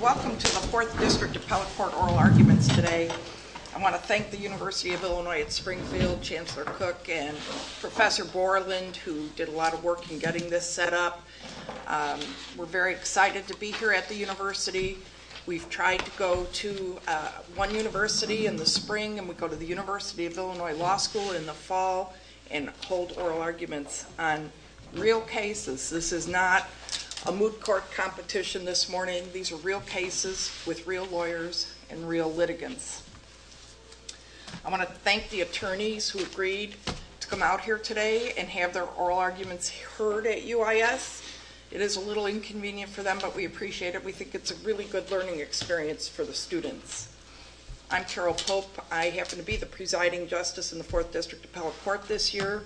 Welcome to the 4th District Appellate Court Oral Arguments today. I want to thank the University of Illinois at Springfield, Chancellor Cook, and Professor Borland who did a lot of work in getting this set up. We're very excited to be here at the university. We've tried to go to one university in the spring and we go to the University of Illinois Law School in the fall and hold oral arguments on real cases. This is not a moot court competition this morning. These are real cases with real lawyers and real litigants. I want to thank the attorneys who agreed to come out here today and have their oral arguments heard at UIS. It is a little inconvenient for them but we appreciate it. We think it's a really good learning experience for the students. I'm Carol Pope. I happen to be the presiding justice in the 4th District Appellate Court this year.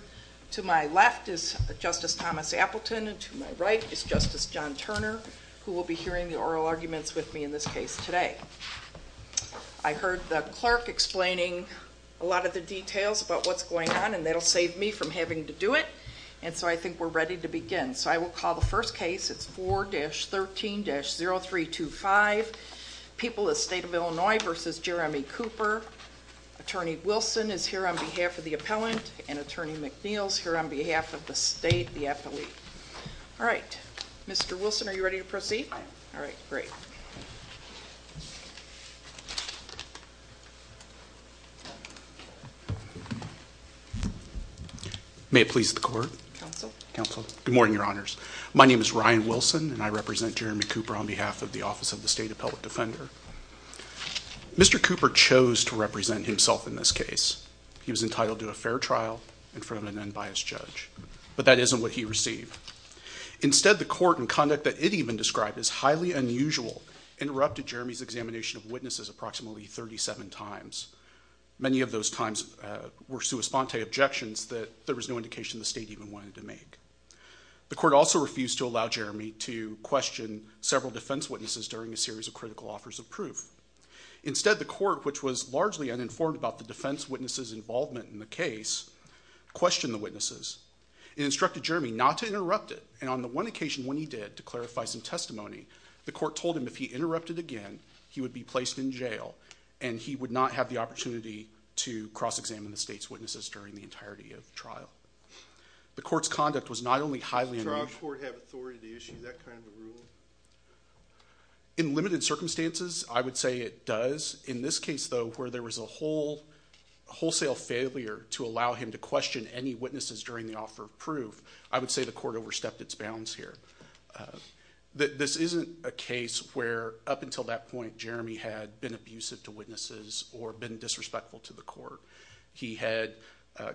To my left is Justice Thomas Appleton and to my right is Justice John Turner who will be hearing the oral arguments with me in this case today. I heard the clerk explaining a lot of the details about what's going on and that will save me from having to do it and so I think we're ready to begin. So I will call the roll. People of the State of Illinois v. Jeremy Cooper. Attorney Wilson is here on behalf of the appellant and Attorney McNeil is here on behalf of the state, the appellee. Alright. Mr. Wilson are you ready to proceed? Alright, great. May it please the Court. Counsel. Good morning Your Honors. My name is Ryan Wilson. I'd like to present Jeremy Cooper on behalf of the Office of the State Appellate Defender. Mr. Cooper chose to represent himself in this case. He was entitled to a fair trial in front of an unbiased judge. But that isn't what he received. Instead, the Court, in conduct that it even described as highly unusual, interrupted Jeremy's examination of witnesses approximately 37 times. Many of those times were sua sponte objections that there was no indication the state even wanted to make. The Court also refused to allow Jeremy to question several defense witnesses during a series of critical offers of proof. Instead, the Court, which was largely uninformed about the defense witnesses' involvement in the case, questioned the witnesses. It instructed Jeremy not to interrupt it and on the one occasion when he did, to clarify some testimony, the Court told him if he interrupted again, he would be placed in jail and he would not have the opportunity to cross-examine the state's witnesses during the entirety of the trial. The Court's conduct was not only highly unusual. Does the trial court have authority to issue that kind of a rule? In limited circumstances, I would say it does. In this case, though, where there was a wholesale failure to allow him to question any witnesses during the offer of proof, I would say the Court overstepped its bounds here. This isn't a case where, up until that point, Jeremy had been abusive to witnesses or been disrespectful to the Court. He had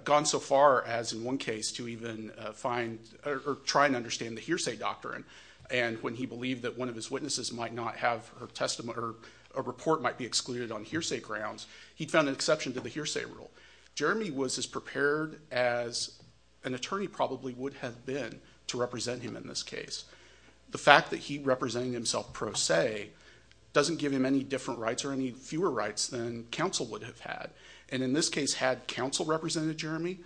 gone so far as, in one case, to even try and understand the hearsay doctrine and when he believed that one of his witnesses might not have a report might be excluded on hearsay grounds, he found an exception to the hearsay rule. Jeremy was as prepared as an attorney probably would have been to represent him in this case. The fact that he represented himself pro se doesn't give him any different rights or any fewer rights than counsel would have had. In this case, had counsel represented Jeremy,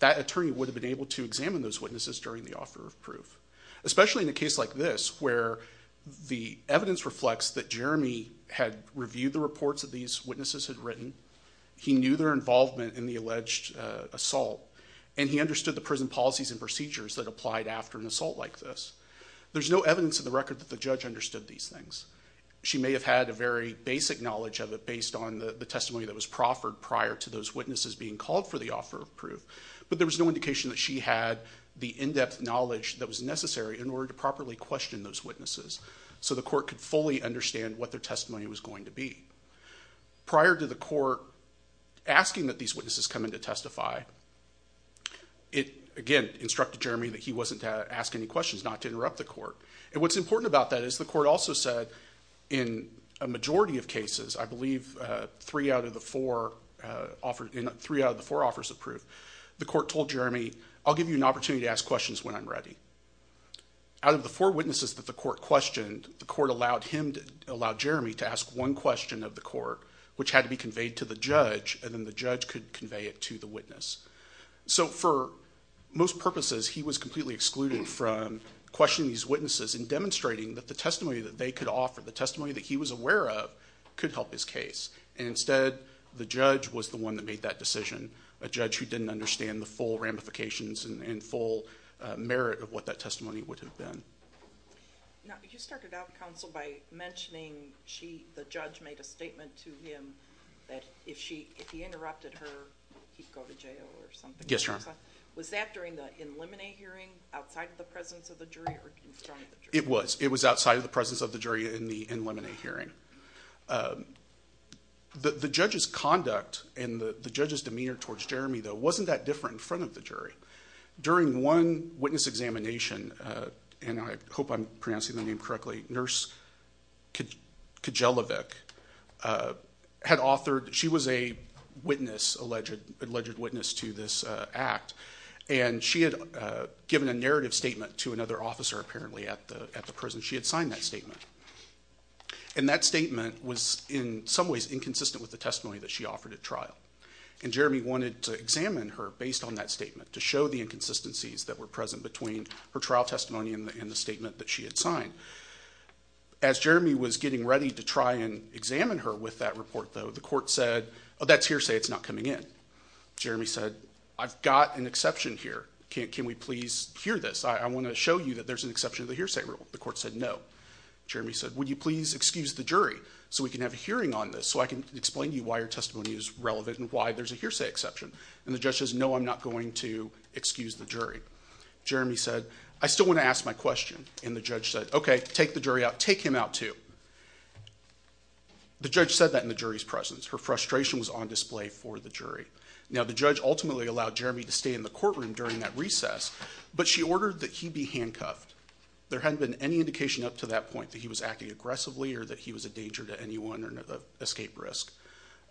that attorney would have been able to examine those witnesses during the offer of proof, especially in a case like this where the evidence reflects that Jeremy had reviewed the reports that these witnesses had written, he knew their involvement in the alleged assault, and he understood the prison policies and procedures that applied after an assault like this. There's no evidence in the record that the judge understood these things. She may have had a very basic knowledge of it based on the testimony that was proffered prior to those witnesses being called for the offer of proof, but there was no indication that she had the in-depth knowledge that was necessary in order to properly question those witnesses so the Court could fully understand what their testimony was going to be. Prior to the Court asking that these witnesses come in to testify, it again instructed Jeremy that he wasn't to ask any questions, not to interrupt the Court. What's important about that is the Court also said, in a majority of cases, I believe three out of the four offers of proof, the Court told Jeremy, I'll give you an opportunity to ask questions when I'm ready. Out of the four witnesses that the Court questioned, the Court allowed Jeremy to ask one question of the Court, which had to be conveyed to the judge, and then the judge could convey it to the witness. So for most purposes, he was completely excluded from questioning these witnesses and demonstrating that the testimony that they could offer, the testimony that he was aware of, could help his case. Instead, the judge was the one that made that decision, a judge who didn't understand the full ramifications and full merit of what that testimony would have been. Now, you started out, counsel, by mentioning the judge made a statement to him that if he interrupted her, he'd go to jail or something. Yes, Your Honor. Was that during the in limine hearing, outside of the presence of the jury, or in front of the jury? It was. It was outside of the presence of the jury in the in limine hearing. The judge's conduct and the judge's demeanor towards Jeremy, though, wasn't that different in front of the jury. During one witness examination, and I hope I'm pronouncing the name correctly, Nurse Kijelovic had authored, she was a witness, alleged witness to this act, and she had given a narrative statement to another officer, apparently, at the prison. She had signed that statement. And that statement was, in some ways, inconsistent with the testimony that she offered at trial. And Jeremy wanted to examine her based on that statement to show the inconsistencies that were present between her trial testimony and the statement that she had signed. As Jeremy was getting ready to try and examine her with that report, though, the court said, oh, that's hearsay. It's not coming in. Jeremy said, I've got an exception here. Can we please hear this? I want to show you that there's an exception to the hearsay rule. The court said no. Jeremy said, would you please excuse the jury so we can have a hearing on this so I can explain to you why your testimony is relevant and why there's a hearsay exception. And the judge says, no, I'm not going to excuse the jury. Jeremy said, I still want to ask my question. And the judge said, OK, take the jury out. Take him out, too. The judge said that in the jury's presence. Her frustration was on display for the jury. Now, the judge ultimately allowed Jeremy to stay in the courtroom during that recess, but she ordered that he be handcuffed. There hadn't been any indication up to that point that he was acting aggressively or that he was a danger to anyone or an escape risk.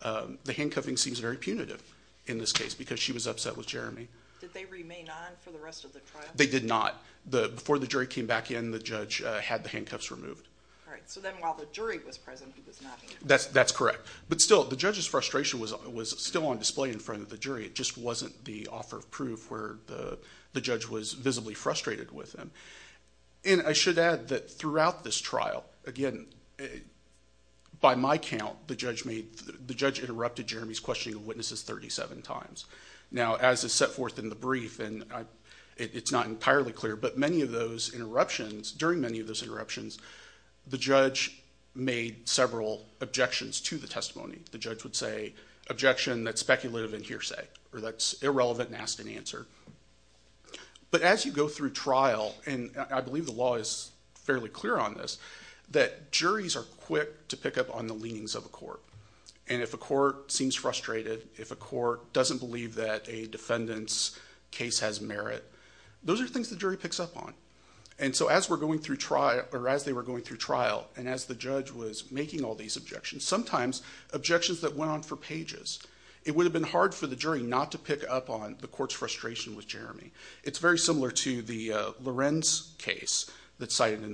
The handcuffing seems very punitive in this case because she was upset with Jeremy. Did they remain on for the rest of the trial? They did not. Before the jury came back in, the judge had the handcuffs removed. All right. So then while the jury was present, he was not handcuffed. That's correct. But still, the judge's frustration was still on display in front of the jury. It just wasn't the offer of proof where the judge was visibly frustrated with him. And I should add that throughout this trial, again, by my count, the judge interrupted Jeremy's set forth in the brief, and it's not entirely clear, but during many of those interruptions, the judge made several objections to the testimony. The judge would say, objection that's speculative and hearsay, or that's irrelevant and asked unanswered. But as you go through trial, and I believe the law is fairly clear on this, that juries are quick to pick up on the leanings of a court. And if a court seems frustrated, if a court doesn't believe that a defendant's case has merit, those are things the jury picks up on. And so as we're going through trial, or as they were going through trial, and as the judge was making all these objections, sometimes objections that went on for pages, it would have been hard for the jury not to pick up on the court's frustration with Jeremy. It's very similar to the Lorenz case that's And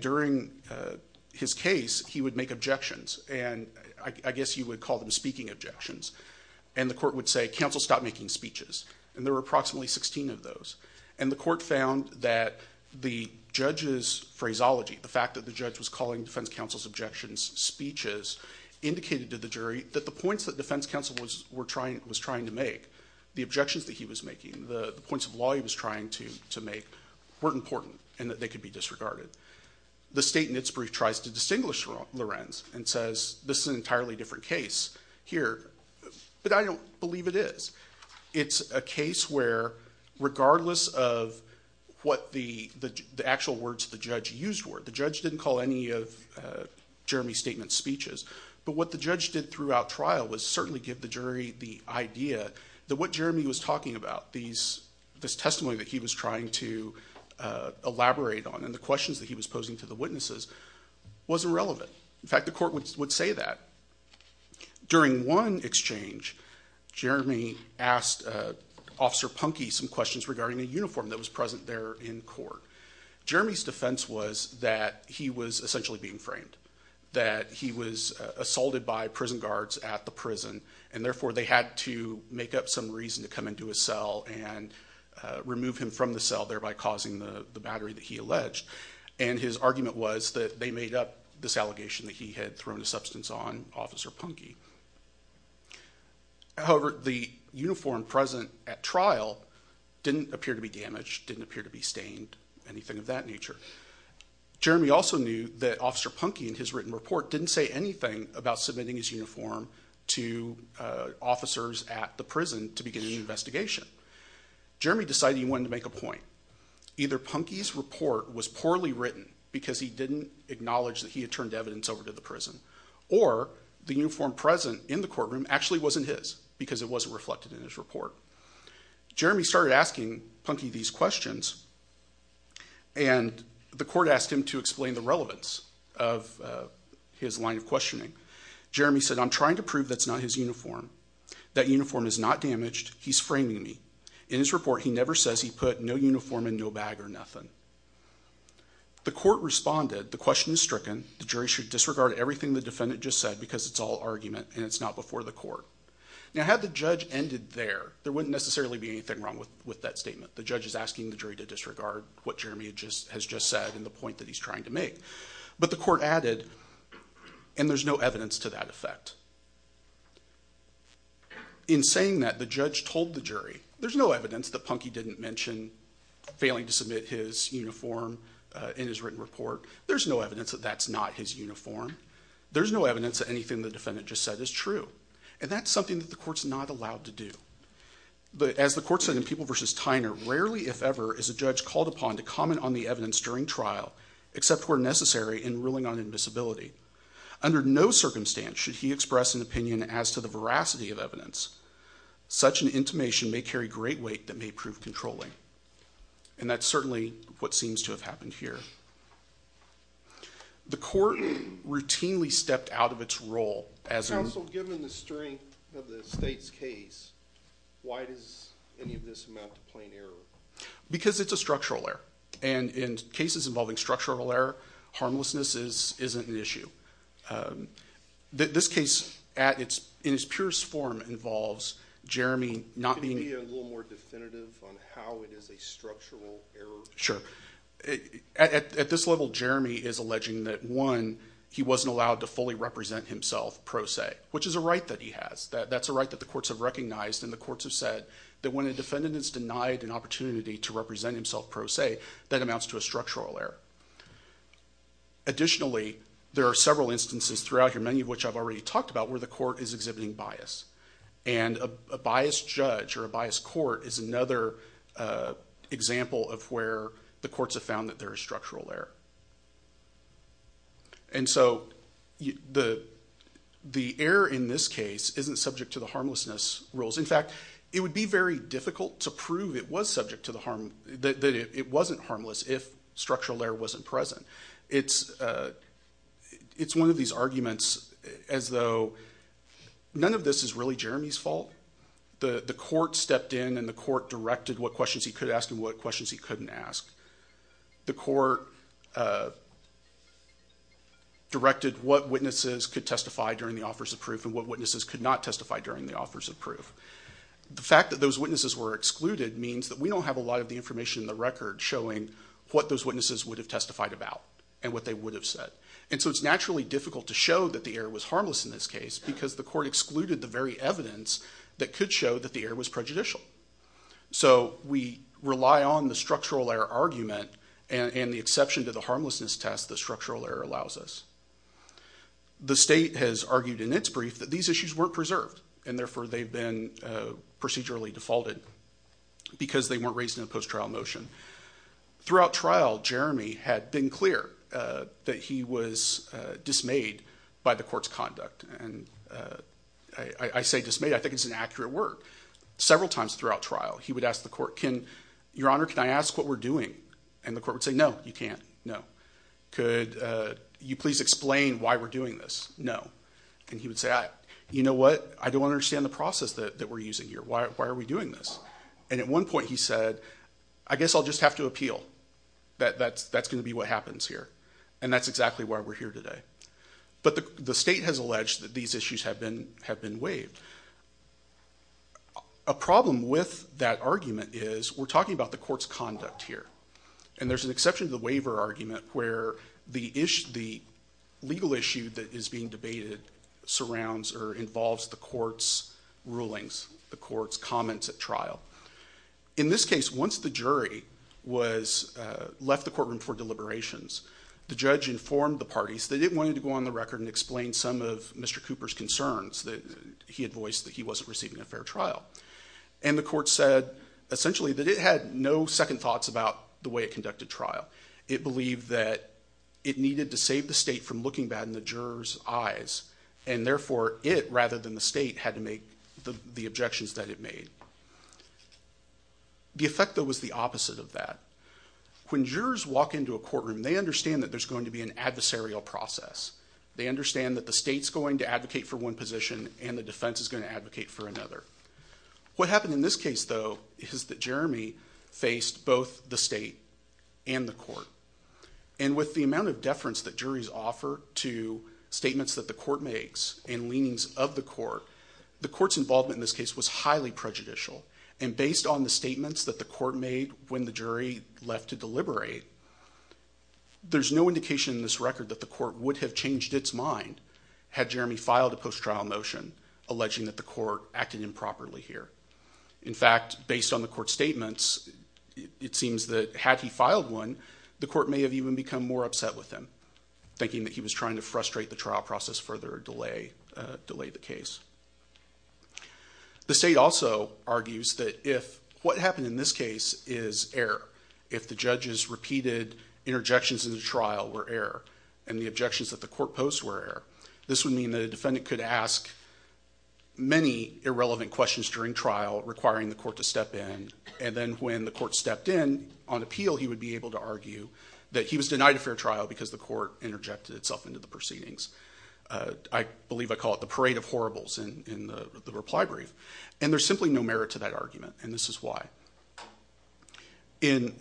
during his case, he would make objections. And I guess you would call them speaking objections. And the court would say, counsel, stop making speeches. And there were approximately 16 of those. And the court found that the judge's phraseology, the fact that the judge was calling defense counsel's objections speeches, indicated to the jury that the points that defense counsel was trying to make, the objections that he was making, the points of law he was trying to make, weren't important and that they could be disregarded. The state in its brief tries to distinguish Lorenz and says, this is an entirely different case here. But I don't believe it is. It's a case where, regardless of what the actual words the judge used were, the judge didn't call any of Jeremy's statement speeches. But what the judge did throughout trial was certainly give the jury the idea that what Jeremy was talking about, this testimony that he was trying to elaborate on, and the questions that he was posing to the witnesses, was irrelevant. In fact, the court would say that. During one exchange, Jeremy asked Officer Punky some questions regarding a uniform that was present there in court. Jeremy's defense was that he was essentially being framed, that he was assaulted by prison guards at the prison, and therefore they had to make up some reason to come into his cell and remove him from the cell, thereby causing the battery that he alleged. And his argument was that they made up this allegation that he had thrown a substance on Officer Punky. However, the uniform present at trial didn't appear to be damaged, didn't appear to be stained, anything of that nature. Jeremy also knew that Officer Punky, in his written report, didn't say anything about submitting his uniform to officers at the prison to begin the investigation. Jeremy decided he wanted to make a point. Either Punky's report was poorly written because he didn't acknowledge that he had turned evidence over to the prison, or the uniform present in the courtroom actually wasn't his, because it wasn't reflected in his report. Jeremy started asking Punky these questions, and the court asked him to explain the relevance of his line of questioning. Jeremy said, I'm trying to prove that's not his uniform. That uniform is not damaged. He's framing me. In his report, he never says he put no uniform and no bag or nothing. The court responded, the question is stricken. The jury should disregard everything the defendant just said because it's all argument and it's not before the court. Now, had the judge ended there, there wouldn't necessarily be anything wrong with that statement. The judge is asking the jury to disregard what Jeremy has just said and the point that he's trying to make. But the court added, and there's no evidence to that effect. In saying that, the judge told the jury, there's no evidence that Punky didn't mention failing to submit his uniform in his written report. There's no evidence that that's not his uniform. There's no evidence that anything the defendant just said is true, and that's something that the court's not allowed to do. But as the court said in People v. Tyner, rarely, if ever, is a judge called upon to comment on the evidence during trial except where necessary in ruling on invisibility. Under no circumstance should he express an opinion as to the veracity of evidence. Such an intimation may carry great weight that may prove controlling. And that's certainly what seems to have happened here. The court routinely stepped out of its role as a... Why does any of this amount to plain error? Because it's a structural error. And in cases involving structural error, harmlessness isn't an issue. This case, in its purest form, involves Jeremy not being... Can you be a little more definitive on how it is a structural error? Sure. At this level, Jeremy is alleging that, one, he wasn't allowed to fully represent himself pro se, which is a right that he has. That's a right that the courts have recognized, and the courts have said that when a defendant is denied an opportunity to represent himself pro se, that amounts to a structural error. Additionally, there are several instances throughout here, many of which I've already talked about, where the court is exhibiting bias. And a biased judge or a biased court is another example of where the courts have found that there is structural error. And so the error in this case isn't subject to the harmlessness rules. In fact, it would be very difficult to prove that it wasn't harmless if structural error wasn't present. It's one of these arguments as though none of this is really Jeremy's fault. The court stepped in and the court directed what questions he could ask and what questions he couldn't ask. The court directed what witnesses could testify during the offers of proof and what witnesses could not testify during the offers of proof. The fact that those witnesses were excluded means that we don't have a lot of the information in the record showing what those witnesses would have testified about and what they would have said. And so it's naturally difficult to show that the error was harmless in this case, because the court excluded the very evidence that could show that the error was prejudicial. So we rely on the structural error argument and the exception to the harmlessness test that structural error allows us. The state has argued in its brief that these issues weren't preserved, and therefore they've been procedurally defaulted, because they weren't raised in a post-trial motion. Throughout trial, Jeremy had been clear that he was dismayed by the court's conduct. And I say dismayed, I think it's an accurate word. Several times throughout trial, he would ask the court, Your Honor, can I ask what we're doing? And the court would say, No, you can't. No. Could you please explain why we're doing this? No. And he would say, You know what? I don't understand the process that we're using here. Why are we doing this? And at one point he said, I guess I'll just have to appeal. That's going to be what happens here. And that's exactly why we're here today. But the state has alleged that these issues have been waived. A problem with that argument is we're talking about the court's conduct here. And there's an exception to the waiver argument where the legal issue that is being debated surrounds or involves the court's rulings, the court's comments at trial. In this case, once the jury left the courtroom for deliberations, the judge informed the parties that it wanted to go on the record and explain some of Mr. Cooper's concerns that he had voiced that he wasn't receiving a fair trial. And the court said, essentially, that it had no second thoughts about the way it conducted trial. It believed that it needed to save the state from looking bad in the jurors' eyes. And therefore, it, rather than the state, had to make the objections that it made. The effect, though, was the opposite of that. When jurors walk into a courtroom, they understand that there's going to be an adversarial process. They understand that the state's going to advocate for one position, and the defense is going to advocate for another. What happened in this case, though, is that Jeremy faced both the state and the court. And with the amount of deference that juries offer to statements that the court makes and leanings of the court, the court's involvement in this case was highly prejudicial. And based on the statements that the court made when the jury left to deliberate, there's no indication in this record that the court would have changed its mind had Jeremy filed a post-trial motion alleging that the court acted improperly here. In fact, based on the court's statements, it seems that had he filed one, the court may have even become more upset with him, thinking that he was trying to frustrate the trial process further or delay the case. The state also argues that if what happened in this case is error, if the judge's repeated interjections in the trial were error, and the objections that the court posed were error, this would mean that a defendant could ask many irrelevant questions during trial, requiring the court to step in, and then when the court stepped in on appeal, he would be able to argue that he was denied a fair trial because the court interjected itself into the proceedings. I believe I call it the parade of horribles in the reply brief. And there's simply no merit to that argument, and this is why. In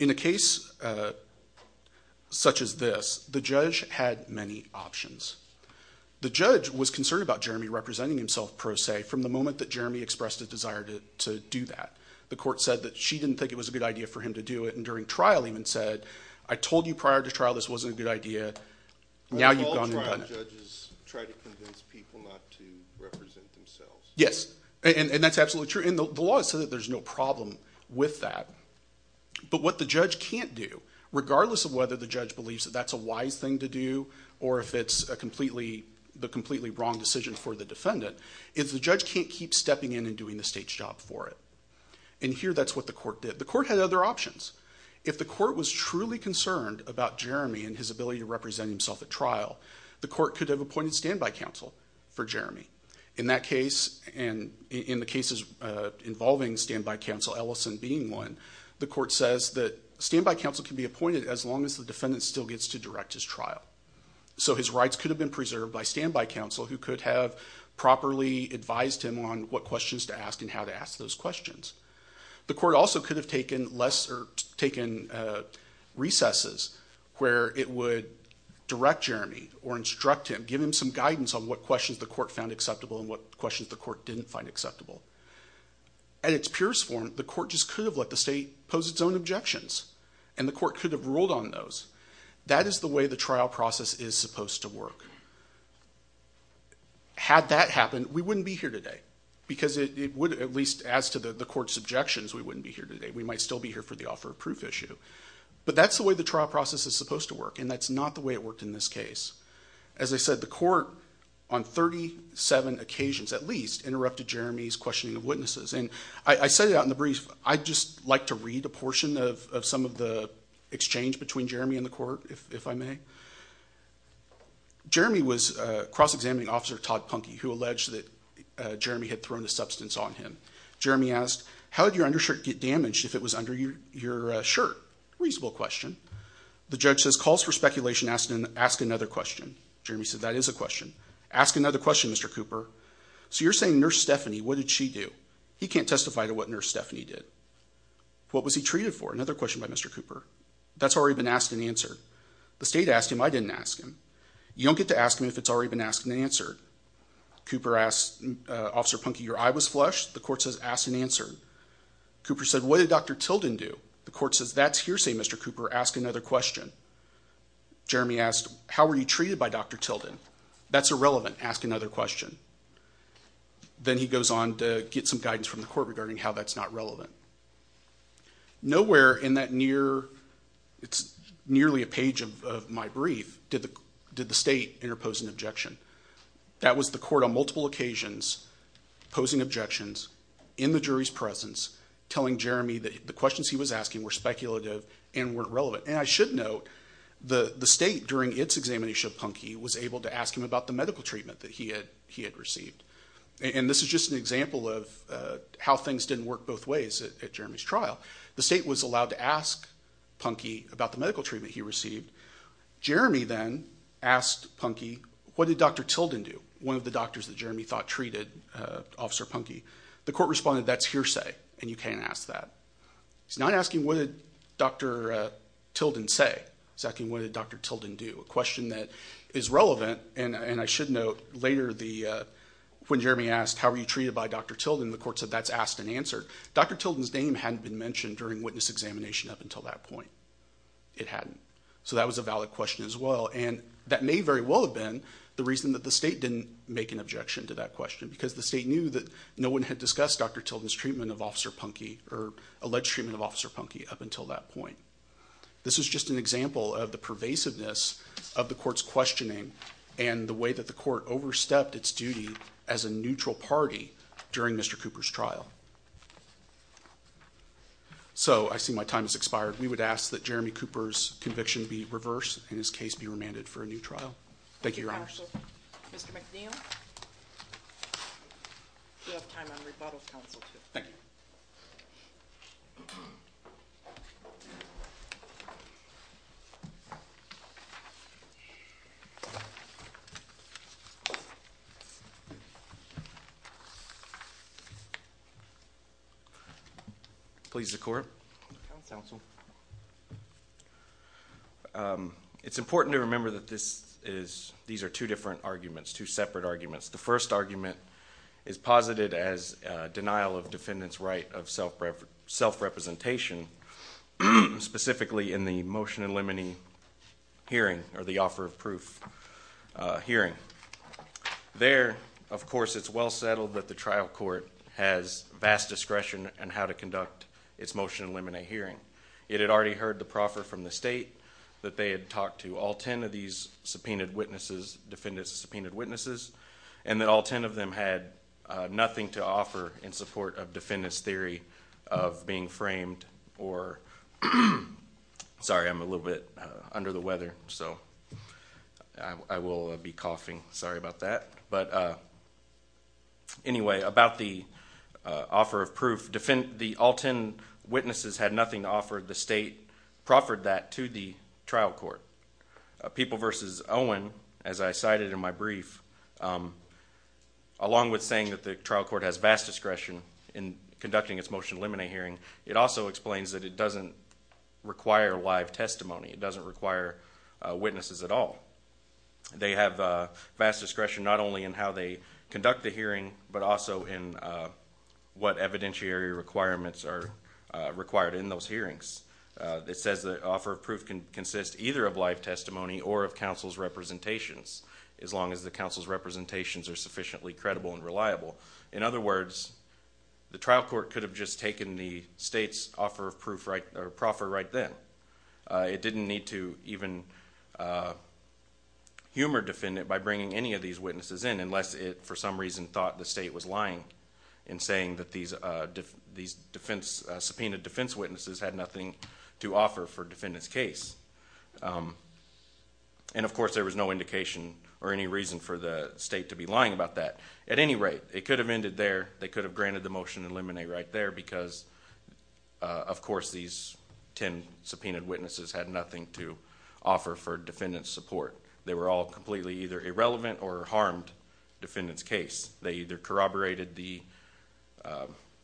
a case such as this, the judge had many options. The judge was concerned about Jeremy representing himself, per se, from the moment that Jeremy expressed a desire to do that. The court said that she didn't think it was a good idea for him to do it, and during trial even said, I told you prior to trial this wasn't a good idea. Now you've gone and done it. But all trial judges try to convince people not to represent themselves. Yes, and that's absolutely true. And the law says that there's no problem with that. But what the judge can't do, regardless of whether the judge believes that that's a wise thing to do or if it's the completely wrong decision for the defendant, is the judge can't keep stepping in and doing the state's job for it. And here that's what the court did. The court had other options. If the court was truly concerned about Jeremy and his ability to represent himself at trial, the court could have appointed standby counsel for Jeremy. In that case, and in the cases involving standby counsel, Ellison being one, the court says that standby counsel can be appointed as long as the defendant still gets to direct his trial. So his rights could have been preserved by standby counsel, who could have properly advised him on what questions to ask and how to ask those questions. The court also could have taken recesses where it would direct Jeremy or instruct him, give him some guidance on what questions the court found acceptable and what questions the court didn't find acceptable. At its purest form, the court just could have let the state pose its own objections. And the court could have ruled on those. That is the way the trial process is supposed to work. Had that happened, we wouldn't be here today. Because it would, at least as to the court's objections, we wouldn't be here today. We might still be here for the offer of proof issue. But that's the way the trial process is supposed to work, and that's not the way it worked in this case. As I said, the court, on 37 occasions at least, interrupted Jeremy's questioning of witnesses. And I said it out in the brief. I'd just like to read a portion of some of the exchange between Jeremy and the court, if I may. Jeremy was cross-examining Officer Todd Punky, who alleged that Jeremy had thrown a substance on him. Jeremy asked, how did your undershirt get damaged if it was under your shirt? Reasonable question. The judge says, calls for speculation. Ask another question. Jeremy said, that is a question. Ask another question, Mr. Cooper. So you're saying Nurse Stephanie, what did she do? He can't testify to what Nurse Stephanie did. What was he treated for? Another question by Mr. Cooper. That's already been asked and answered. The state asked him. I didn't ask him. You don't get to ask him if it's already been asked and answered. Cooper asked Officer Punky, your eye was flushed. The court says, ask and answer. Cooper said, what did Dr. Tilden do? The court says, that's hearsay, Mr. Cooper. Ask another question. Jeremy asked, how were you treated by Dr. Tilden? That's irrelevant. Ask another question. Then he goes on to get some guidance from the court regarding how that's not relevant. Nowhere in that nearly a page of my brief did the state interpose an objection. That was the court on multiple occasions posing objections in the jury's presence telling Jeremy that the questions he was asking were speculative and weren't relevant. And I should note, the state, during its examination of Punky, was able to ask him about the medical treatment that he had received. And this is just an example of how things didn't work both ways at Jeremy's trial. The state was allowed to ask Punky about the medical treatment he received. Jeremy then asked Punky, what did Dr. Tilden do? One of the doctors that Jeremy thought treated Officer Punky. The court responded, that's hearsay, and you can't ask that. He's not asking, what did Dr. Tilden say? He's asking, what did Dr. Tilden do? A question that is relevant, and I should note, later when Jeremy asked, how were you treated by Dr. Tilden? The court said, that's asked and answered. Dr. Tilden's name hadn't been mentioned during witness examination up until that point. It hadn't. So that was a valid question as well. And that may very well have been the reason that the state didn't make an objection to that question because the state knew that no one had discussed Dr. Tilden's treatment of Officer Punky or alleged treatment of Officer Punky up until that point. This is just an example of the pervasiveness of the court's questioning and the way that the court overstepped its duty as a neutral party during Mr. Cooper's trial. So I see my time has expired. We would ask that Jeremy Cooper's conviction be reversed and his case be remanded for a new trial. Thank you, Your Honors. Thank you, Counsel. Mr. McNeil, you have time on rebuttals, Counsel. Thank you. Thank you. Please, the Court. Counsel. It's important to remember that these are two different arguments, two separate arguments. The first argument is posited as denial of defendant's right of self-representation, specifically in the motion in limine hearing or the offer of proof hearing. There, of course, it's well settled that the trial court has vast discretion in how to conduct its motion in limine hearing. It had already heard the proffer from the state that they had talked to all 10 of these subpoenaed witnesses, defendant's subpoenaed witnesses, and that all 10 of them had nothing to offer in support of defendant's theory of being framed or... Sorry, I'm a little bit under the weather, so I will be coughing. Sorry about that. But anyway, about the offer of proof, the all 10 witnesses had nothing to offer. The state proffered that to the trial court. People v. Owen, as I cited in my brief, along with saying that the trial court has vast discretion in conducting its motion in limine hearing, it also explains that it doesn't require live testimony. It doesn't require witnesses at all. They have vast discretion not only in how they conduct the hearing, but also in what evidentiary requirements are required in those hearings. It says the offer of proof can consist either of live testimony or of counsel's representations, as long as the counsel's representations are sufficiently credible and reliable. In other words, the trial court could have just taken the state's offer of proffer right then. It didn't need to even humor defendant by bringing any of these witnesses in, unless it, for some reason, thought the state was lying in saying that these subpoenaed defense witnesses had nothing to offer for defendant's case. And, of course, there was no indication or any reason for the state to be lying about that. At any rate, it could have ended there. They could have granted the motion in limine right there because, of course, these 10 subpoenaed witnesses had nothing to offer for defendant's support. They were all completely either irrelevant or harmed defendant's case. They either corroborated the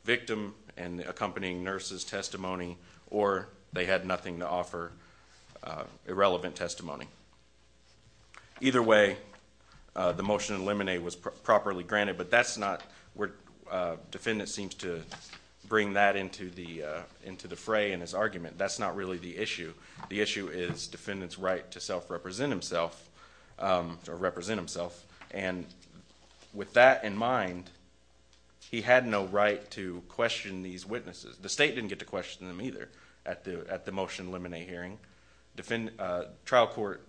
victim and the accompanying nurse's testimony or they had nothing to offer irrelevant testimony. Either way, the motion in limine was properly granted, but that's not where defendant seems to bring that into the fray in his argument. That's not really the issue. The issue is defendant's right to self-represent himself and, with that in mind, he had no right to question these witnesses. The state didn't get to question them either at the motion in limine hearing. Trial court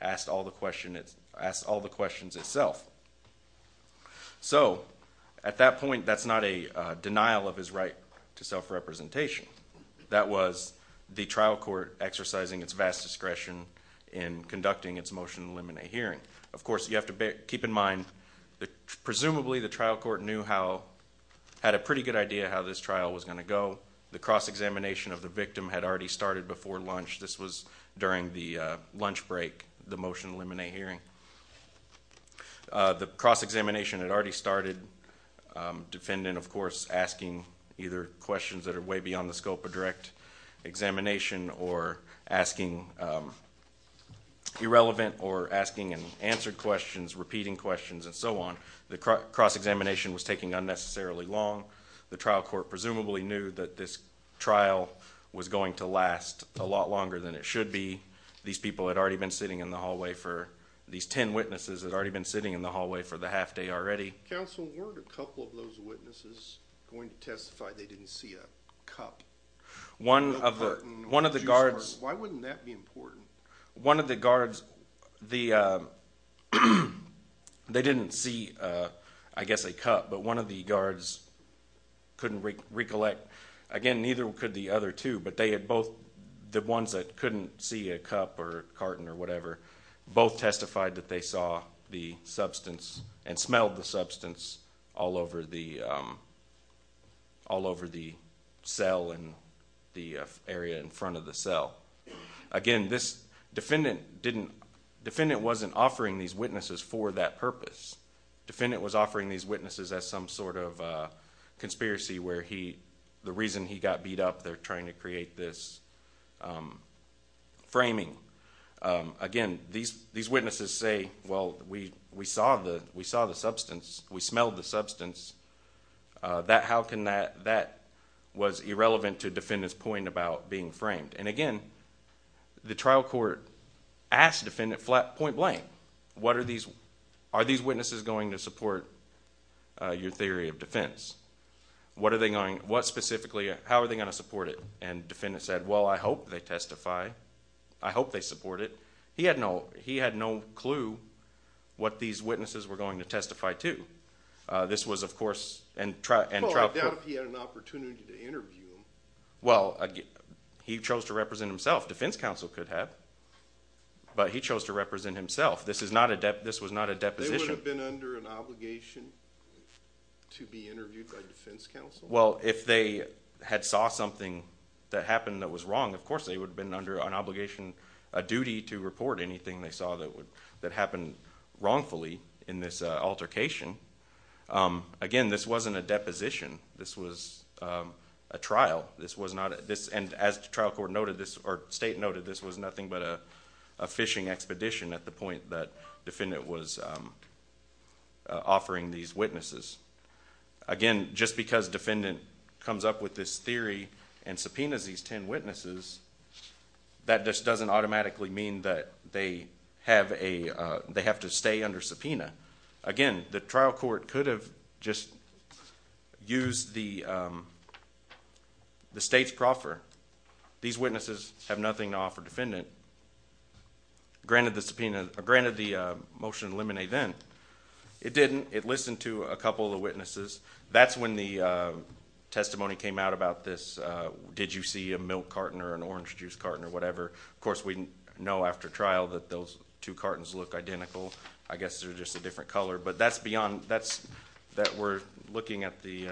asked all the questions itself. So, at that point, that's not a denial of his right to self-representation. That was the trial court exercising its vast discretion in conducting its motion in limine hearing. Of course, you have to keep in mind that, presumably, the trial court knew how... had a pretty good idea how this trial was going to go. The cross-examination of the victim had already started before lunch. This was during the lunch break, the motion in limine hearing. The cross-examination had already started. Defendant, of course, asking either questions that are way beyond the scope of direct examination or asking irrelevant or asking and answering questions, repeating questions and so on. The cross-examination was taking unnecessarily long. The trial court presumably knew that this trial was going to last a lot longer than it should be. These people had already been sitting in the hallway for... These ten witnesses had already been sitting in the hallway for the half day already. Counsel, weren't a couple of those witnesses going to testify they didn't see a cup? One of the guards... Why wouldn't that be important? One of the guards... They didn't see, I guess, a cup, but one of the guards couldn't recollect. Again, neither could the other two, but they had both... The ones that couldn't see a cup or carton or whatever both testified that they saw the substance and smelled the substance all over the... all over the cell and the area in front of the cell. Again, this defendant didn't... Defendant wasn't offering these witnesses for that purpose. Defendant was offering these witnesses as some sort of conspiracy where the reason he got beat up, they're trying to create this framing. Again, these witnesses say, well, we saw the substance. We smelled the substance. How can that... That was irrelevant to defendant's point about being framed. And again, the trial court asked defendant point blank, what are these... Are these witnesses going to support your theory of defense? What are they going... How are they going to support it? And defendant said, well, I hope they testify. I hope they support it. He had no clue what these witnesses were going to testify to. This was, of course... Well, I doubt if he had an opportunity to interview them. Well, he chose to represent himself. Defense counsel could have, but he chose to represent himself. This was not a deposition. They would have been under an obligation to be interviewed by defense counsel? Well, if they had saw something that happened that was wrong, of course they would have been under an obligation, a duty to report anything they saw that happened wrongfully in this altercation. Again, this wasn't a deposition. This was a trial. This was not... And as the trial court noted, or state noted, this was nothing but a fishing expedition at the point that defendant was offering these witnesses. Again, just because defendant comes up with this theory and subpoenas these ten witnesses, that just doesn't automatically mean that they have to stay under subpoena. Again, the trial court could have just used the state's proffer. These witnesses have nothing to offer defendant. Granted the motion to eliminate then. It didn't. It listened to a couple of the witnesses. That's when the testimony came out about this. Did you see a milk carton or an orange juice carton or whatever? Of course, we know after trial that those two cartons look identical. I guess they're just a different color. But that's beyond... We're looking at the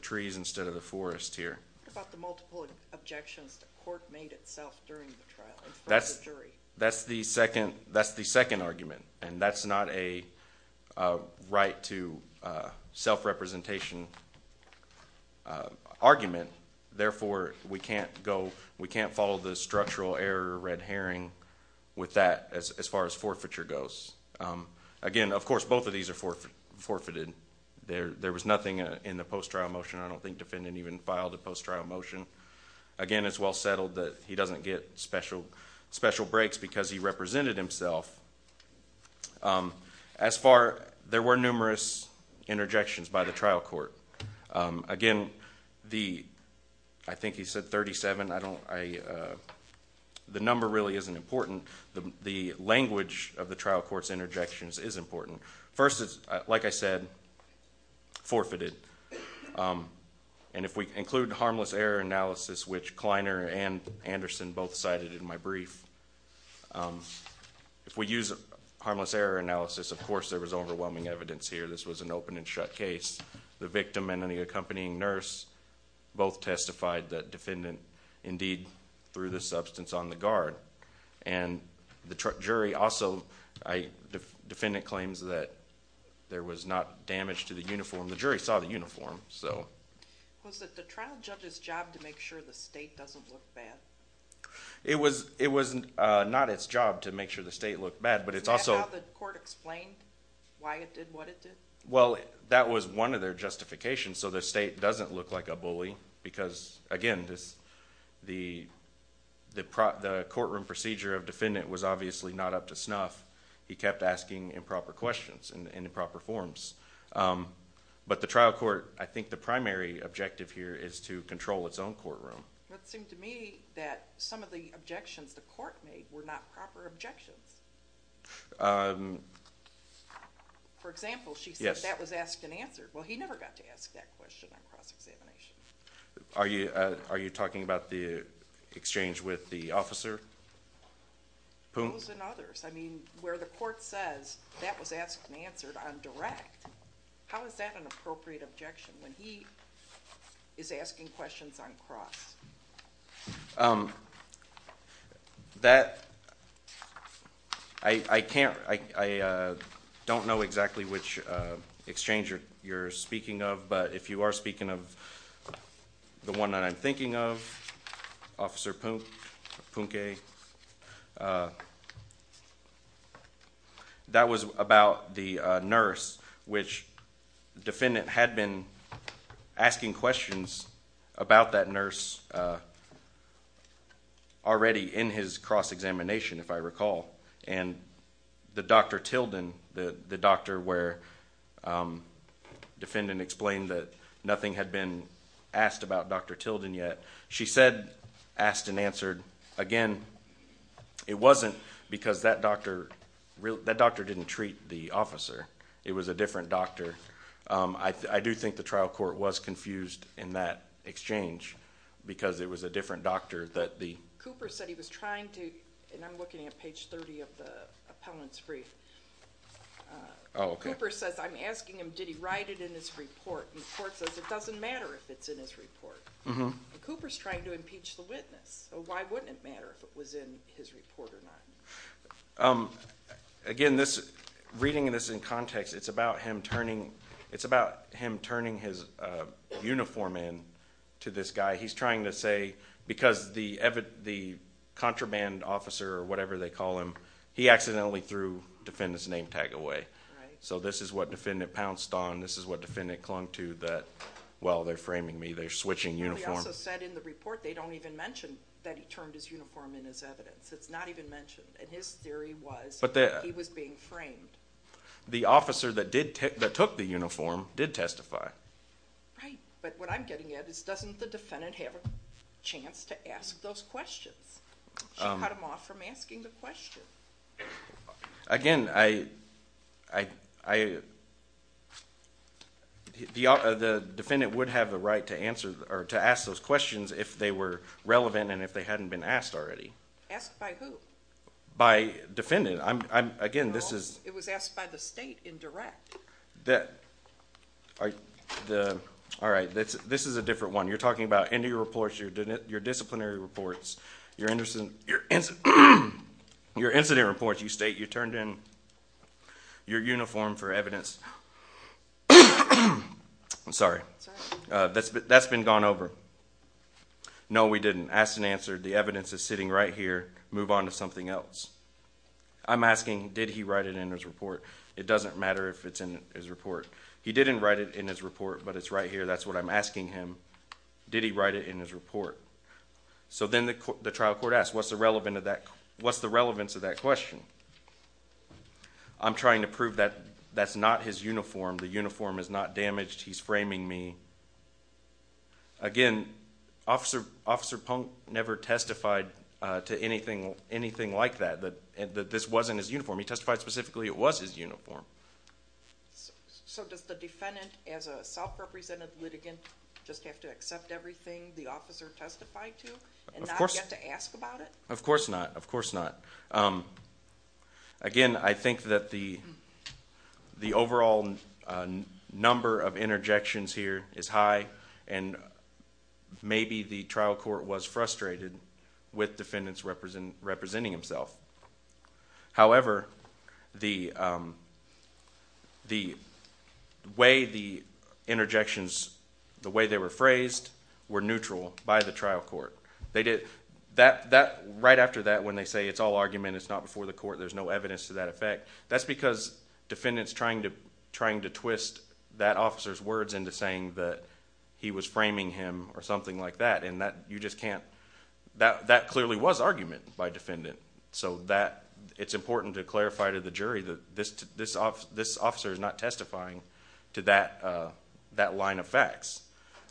trees instead of the forest here. What about the multiple objections the court made itself during the trial in front of the jury? That's the second argument. And that's not a right to self-representation argument. Therefore, we can't follow the structural error, red herring, with that as far as forfeiture goes. Again, of course, both of these are forfeited. There was nothing in the post-trial motion. I don't think defendant even filed a post-trial motion. Again, it's well settled that he doesn't get special breaks because he represented himself. As far... There were numerous interjections by the trial court. Again, the... I think he said 37. I don't... The number really isn't important. The language of the trial court's interjections is important. First, like I said, forfeited. And if we include harmless error analysis, which Kleiner and Anderson both cited in my brief, if we use harmless error analysis, of course there was overwhelming evidence here. This was an open and shut case. The victim and the accompanying nurse both testified that defendant, indeed, threw the substance on the guard. And the jury also... Defendant claims that there was not damage to the uniform. The jury saw the uniform, so... Was it the trial judge's job to make sure the state doesn't look bad? It was not its job to make sure the state looked bad, but it's also... Is that how the court explained why it did what it did? Well, that was one of their justifications, so the state doesn't look like a bully because, again, the courtroom procedure of defendant was obviously not up to snuff. He kept asking improper questions in improper forms. But the trial court... I think the primary objective here is to control its own courtroom. It seemed to me that some of the objections the court made were not proper objections. For example, she said that was asked and answered. Well, he never got to ask that question on cross-examination. Are you talking about the exchange with the officer? Those and others. I mean, where the court says that was asked and answered on direct, how is that an appropriate objection when he is asking questions on cross? That... I can't...I don't know exactly which exchange you're speaking of, but if you are speaking of the one that I'm thinking of, Officer Poonke... That was about the nurse, which the defendant had been asking questions about that nurse already in his cross-examination, if I recall. And the Dr Tilden, the doctor where the defendant explained that nothing had been asked about Dr Tilden yet, she said asked and answered. Again, it wasn't because that doctor didn't treat the officer. It was a different doctor. I do think the trial court was confused in that exchange because it was a different doctor that the... Cooper said he was trying to... And I'm looking at page 30 of the appellant's brief. Oh, OK. Cooper says, I'm asking him, did he write it in his report? And the court says it doesn't matter if it's in his report. Cooper's trying to impeach the witness, so why wouldn't it matter if it was in his report or not? Again, reading this in context, it's about him turning... He's trying to say because the contraband officer or whatever they call him, he accidentally threw the defendant's name tag away. So this is what defendant pounced on, this is what defendant clung to that, well, they're framing me, they're switching uniforms. He also said in the report they don't even mention that he turned his uniform in his evidence. It's not even mentioned. And his theory was he was being framed. The officer that took the uniform did testify. Right, but what I'm getting at is, doesn't the defendant have a chance to ask those questions? She cut him off from asking the questions. Again, I... The defendant would have the right to ask those questions if they were relevant and if they hadn't been asked already. Asked by who? By defendant. No, it was asked by the state in direct. The... All right, this is a different one. You're talking about your disciplinary reports, your incident reports. You state you turned in your uniform for evidence. I'm sorry. That's been gone over. No, we didn't. Asked and answered. The evidence is sitting right here. Move on to something else. I'm asking, did he write it in his report? It doesn't matter if it's in his report. He didn't write it in his report, but it's right here. That's what I'm asking him. Did he write it in his report? So then the trial court asked, what's the relevance of that question? I'm trying to prove that that's not his uniform. The uniform is not damaged. He's framing me. Again, Officer Punk never testified to anything like that, that this wasn't his uniform. He testified specifically it was his uniform. So does the defendant, as a self-represented litigant, just have to accept everything the officer testified to and not get to ask about it? Of course not. Of course not. Again, I think that the overall number of interjections here is high, and maybe the trial court was frustrated with defendants representing himself. However, the way the interjections, the way they were phrased, were neutral by the trial court. Right after that, when they say it's all argument, it's not before the court, there's no evidence to that effect, that's because defendant's trying to twist that officer's words into saying that he was framing him or something like that. That clearly was argument by defendant. So it's important to clarify to the jury that this officer is not testifying to that line of facts.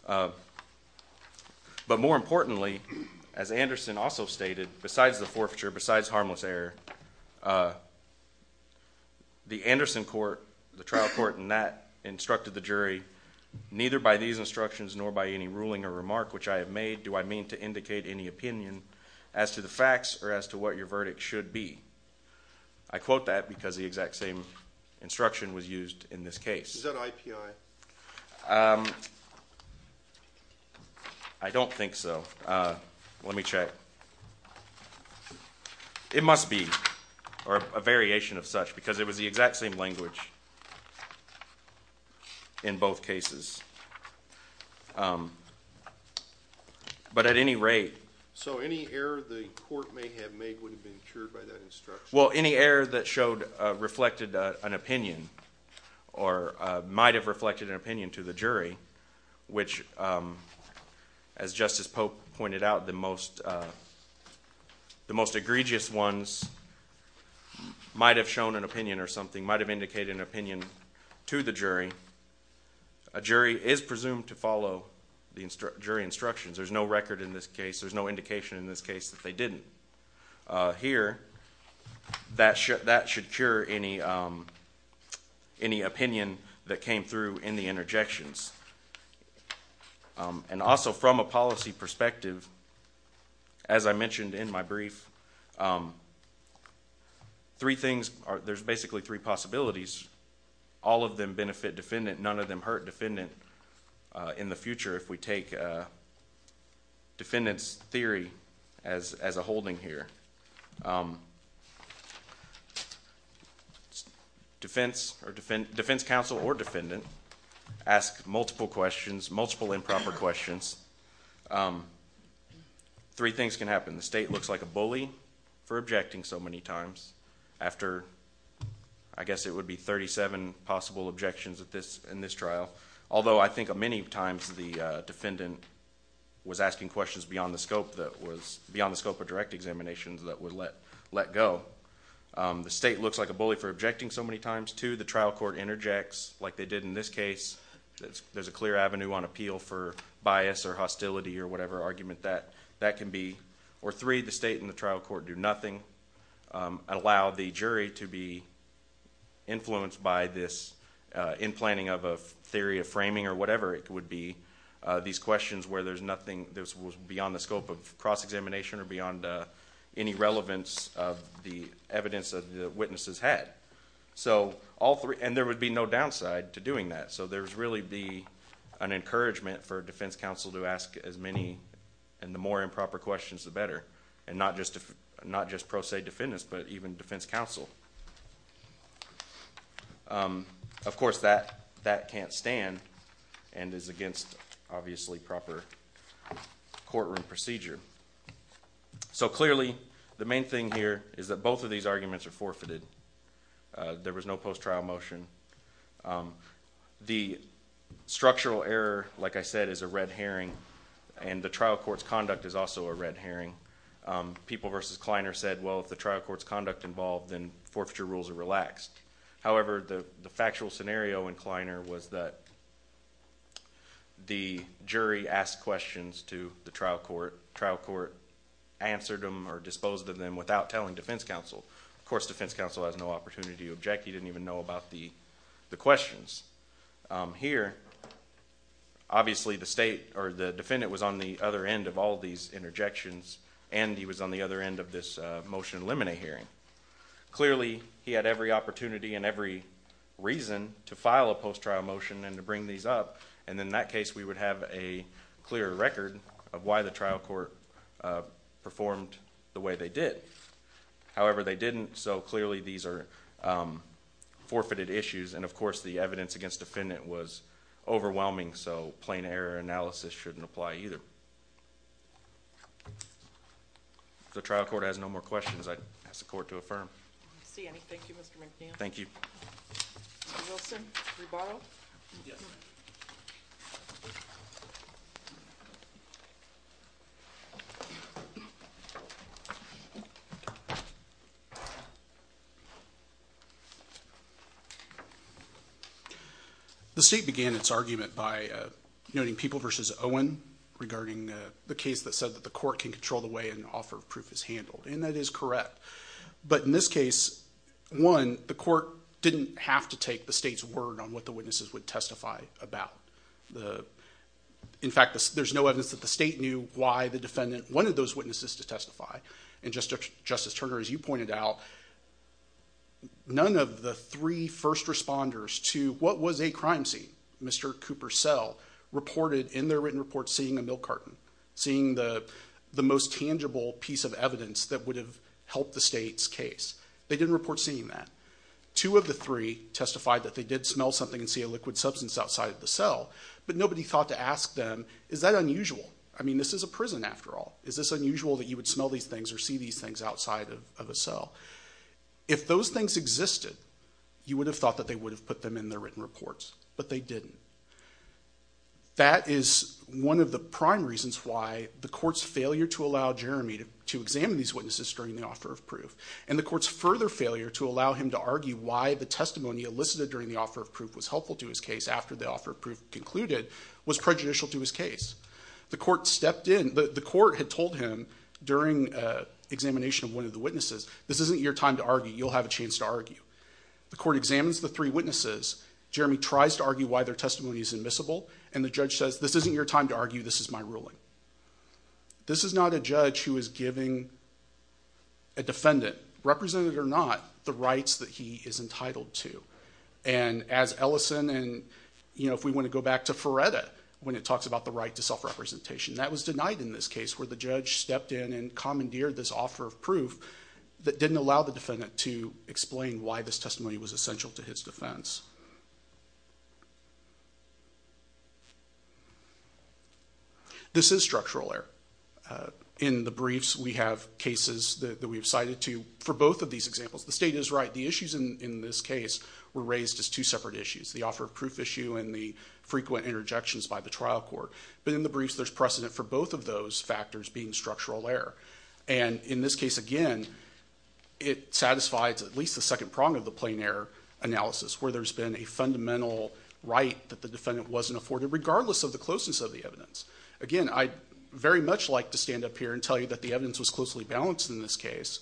But more importantly, as Anderson also stated, besides the forfeiture, besides harmless error, the Anderson court, the trial court, and that instructed the jury, neither by these instructions nor by any ruling or remark which I have made do I mean to indicate any opinion as to the facts or as to what your verdict should be. I quote that because the exact same instruction was used in this case. Is that IPI? I don't think so. Let me check. It must be, or a variation of such, because it was the exact same language in both cases. But at any rate... So any error the court may have made would have been cured by that instruction? Well, any error that showed, reflected an opinion or might have reflected an opinion to the jury, which as Justice Pope pointed out, the most egregious ones might have shown an opinion or something, might have indicated an opinion to the jury, a jury is presumed to follow the jury instructions. There's no record in this case, there's no indication in this case that they didn't. Here, that should cure any opinion that came through in the interjections. And also from a policy perspective, as I mentioned in my brief, there's basically three possibilities. All of them benefit defendant, none of them hurt defendant in the future if we take defendant's theory as a holding here. Defense counsel or defendant ask multiple questions, three things can happen. The state looks like a bully for objecting so many times, after I guess it would be 37 possible objections in this trial. Although I think many times the defendant was asking questions beyond the scope of direct examinations that would let go. The state looks like a bully for objecting so many times, too. The trial court interjects, like they did in this case. There's a clear avenue on appeal for bias or hostility or whatever argument that can be. Or three, the state and the trial court do nothing, allow the jury to be influenced by this in-planning of a theory of framing or whatever it would be. These questions where there's nothing beyond the scope of cross-examination or beyond any relevance of the evidence that the witnesses had. There would be no downside to doing that. There would really be an encouragement for defense counsel to ask as many and the more improper questions, the better. Not just pro se defendants, but even defense counsel. Of course, that can't stand and is against, obviously, proper courtroom procedure. Clearly, the main thing here is that both of these arguments are forfeited. There was no post-trial motion. The structural error, like I said, is a red herring, and the trial court's conduct is also a red herring. People versus Kleiner said, well, if the trial court's conduct involved, then forfeiture rules are relaxed. However, the factual scenario in Kleiner was that the jury asked questions to the trial court, the trial court answered them or disposed of them without telling defense counsel. Of course, defense counsel has no opportunity to object. He didn't even know about the questions. Here, obviously, the defendant was on the other end of all these interjections, and he was on the other end of this motion to eliminate hearing. Clearly, he had every opportunity and every reason to file a post-trial motion and to bring these up, and in that case, we would have a clear record of why the trial court performed the way they did. However, they didn't, so clearly these are forfeited issues, and, of course, the evidence against the defendant was overwhelming, so plain error analysis shouldn't apply either. If the trial court has no more questions, I'd ask the court to affirm. I don't see anything. Thank you, Mr. McNeil. Thank you. Mr. Nielsen, rebuttal? Yes. The state began its argument by noting People v. Owen regarding the case that said that the court can control the way an offer of proof is handled, and that is correct. But in this case, one, the court didn't have to take the state's word on what the witnesses would testify about. In fact, there's no evidence that the state knew why the defendant wanted those witnesses to testify, and Justice Turner, as you pointed out, none of the three first responders to what was a crime scene, Mr. Cooper Sell, reported in their written report seeing a milk carton, seeing the most tangible piece of evidence that would have helped the state's case. They didn't report seeing that. Two of the three testified that they did smell something and see a liquid substance outside of the cell, but nobody thought to ask them, is that unusual? I mean, this is a prison, after all. Is this unusual that you would smell these things or see these things outside of a cell? If those things existed, you would have thought that they would have put them in their written reports, but they didn't. That is one of the prime reasons why the court's failure to allow Jeremy to examine these witnesses during the offer of proof and the court's further failure to allow him to argue why the testimony elicited during the offer of proof was helpful to his case after the offer of proof concluded was prejudicial to his case. The court had told him during examination of one of the witnesses, this isn't your time to argue, you'll have a chance to argue. The court examines the three witnesses. Jeremy tries to argue why their testimony is admissible, and the judge says, this isn't your time to argue, this is my ruling. This is not a judge who is giving a defendant, represented or not, the rights that he is entitled to. And as Ellison, and if we want to go back to Feretta, when it talks about the right to self-representation, that was denied in this case where the judge stepped in and commandeered this offer of proof that didn't allow the defendant to explain why this testimony was essential to his defense. This is structural error. In the briefs, we have cases that we have cited to, for both of these examples, the state is right, the issues in this case were raised as two separate issues, the offer of proof issue and the frequent interjections by the trial court. But in the briefs, there's precedent for both of those factors being structural error. And in this case, again, it satisfies at least the second prong of the plain error analysis, where there's a precedent that there's been a fundamental right that the defendant wasn't afforded, regardless of the closeness of the evidence. Again, I'd very much like to stand up here and tell you that the evidence was closely balanced in this case,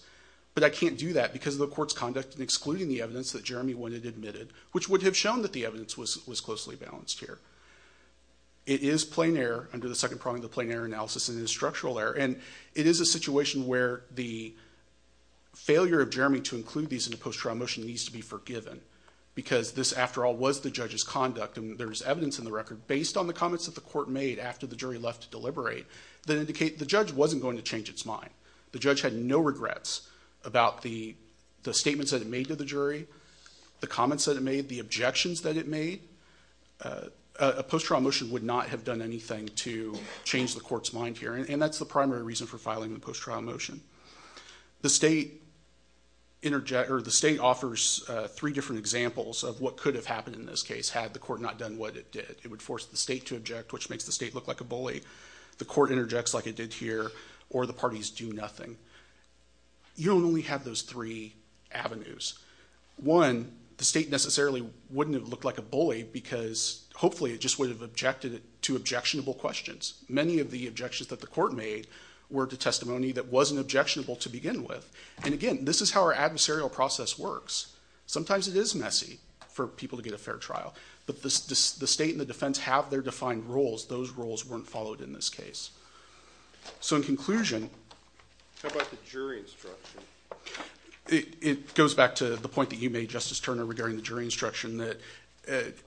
but I can't do that because of the court's conduct in excluding the evidence that Jeremy would have admitted, which would have shown that the evidence was closely balanced here. It is plain error under the second prong of the plain error analysis and it is structural error. And it is a situation where the failure of Jeremy to include these in a post-trial motion needs to be forgiven because this, after all, was the judge's conduct. And there's evidence in the record, based on the comments that the court made after the jury left to deliberate, that indicate the judge wasn't going to change its mind. The judge had no regrets about the statements that it made to the jury, the comments that it made, the objections that it made. A post-trial motion would not have done anything to change the court's mind here, and that's the primary reason for filing the post-trial motion. The state offers three different examples of what could have happened in this case had the court not done what it did. It would force the state to object, which makes the state look like a bully. The court interjects like it did here, or the parties do nothing. You only have those three avenues. One, the state necessarily wouldn't have looked like a bully because hopefully it just would have objected to objectionable questions. Many of the objections that the court made were to testimony that wasn't objectionable to begin with. And again, this is how our adversarial process works. Sometimes it is messy for people to get a fair trial, but the state and the defense have their defined roles. Those roles weren't followed in this case. So in conclusion... How about the jury instruction? It goes back to the point that you made, Justice Turner, regarding the jury instruction, that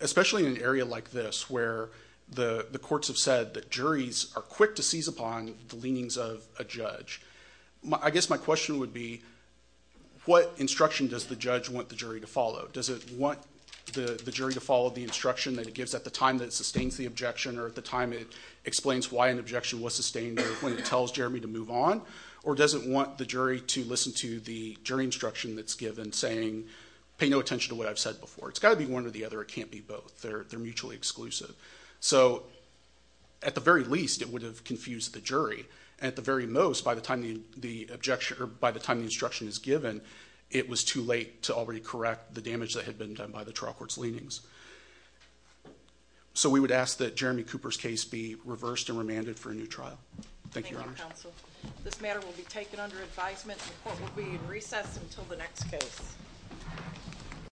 especially in an area like this where the courts have said that juries are quick to seize upon the leanings of a judge. I guess my question would be, what instruction does the judge want the jury to follow? Does it want the jury to follow the instruction that it gives at the time that it sustains the objection or at the time it explains why an objection was sustained or when it tells Jeremy to move on? Or does it want the jury to listen to the jury instruction that's given saying, pay no attention to what I've said before? It's got to be one or the other. It can't be both. They're mutually exclusive. So at the very least, it would have confused the jury. And at the very most, by the time the instruction is given, it was too late to already correct the damage that had been done by the trial court's leanings. So we would ask that Jeremy Cooper's case be reversed and remanded for a new trial. Thank you, Your Honor. This matter will be taken under advisement. The court will be in recess until the next case.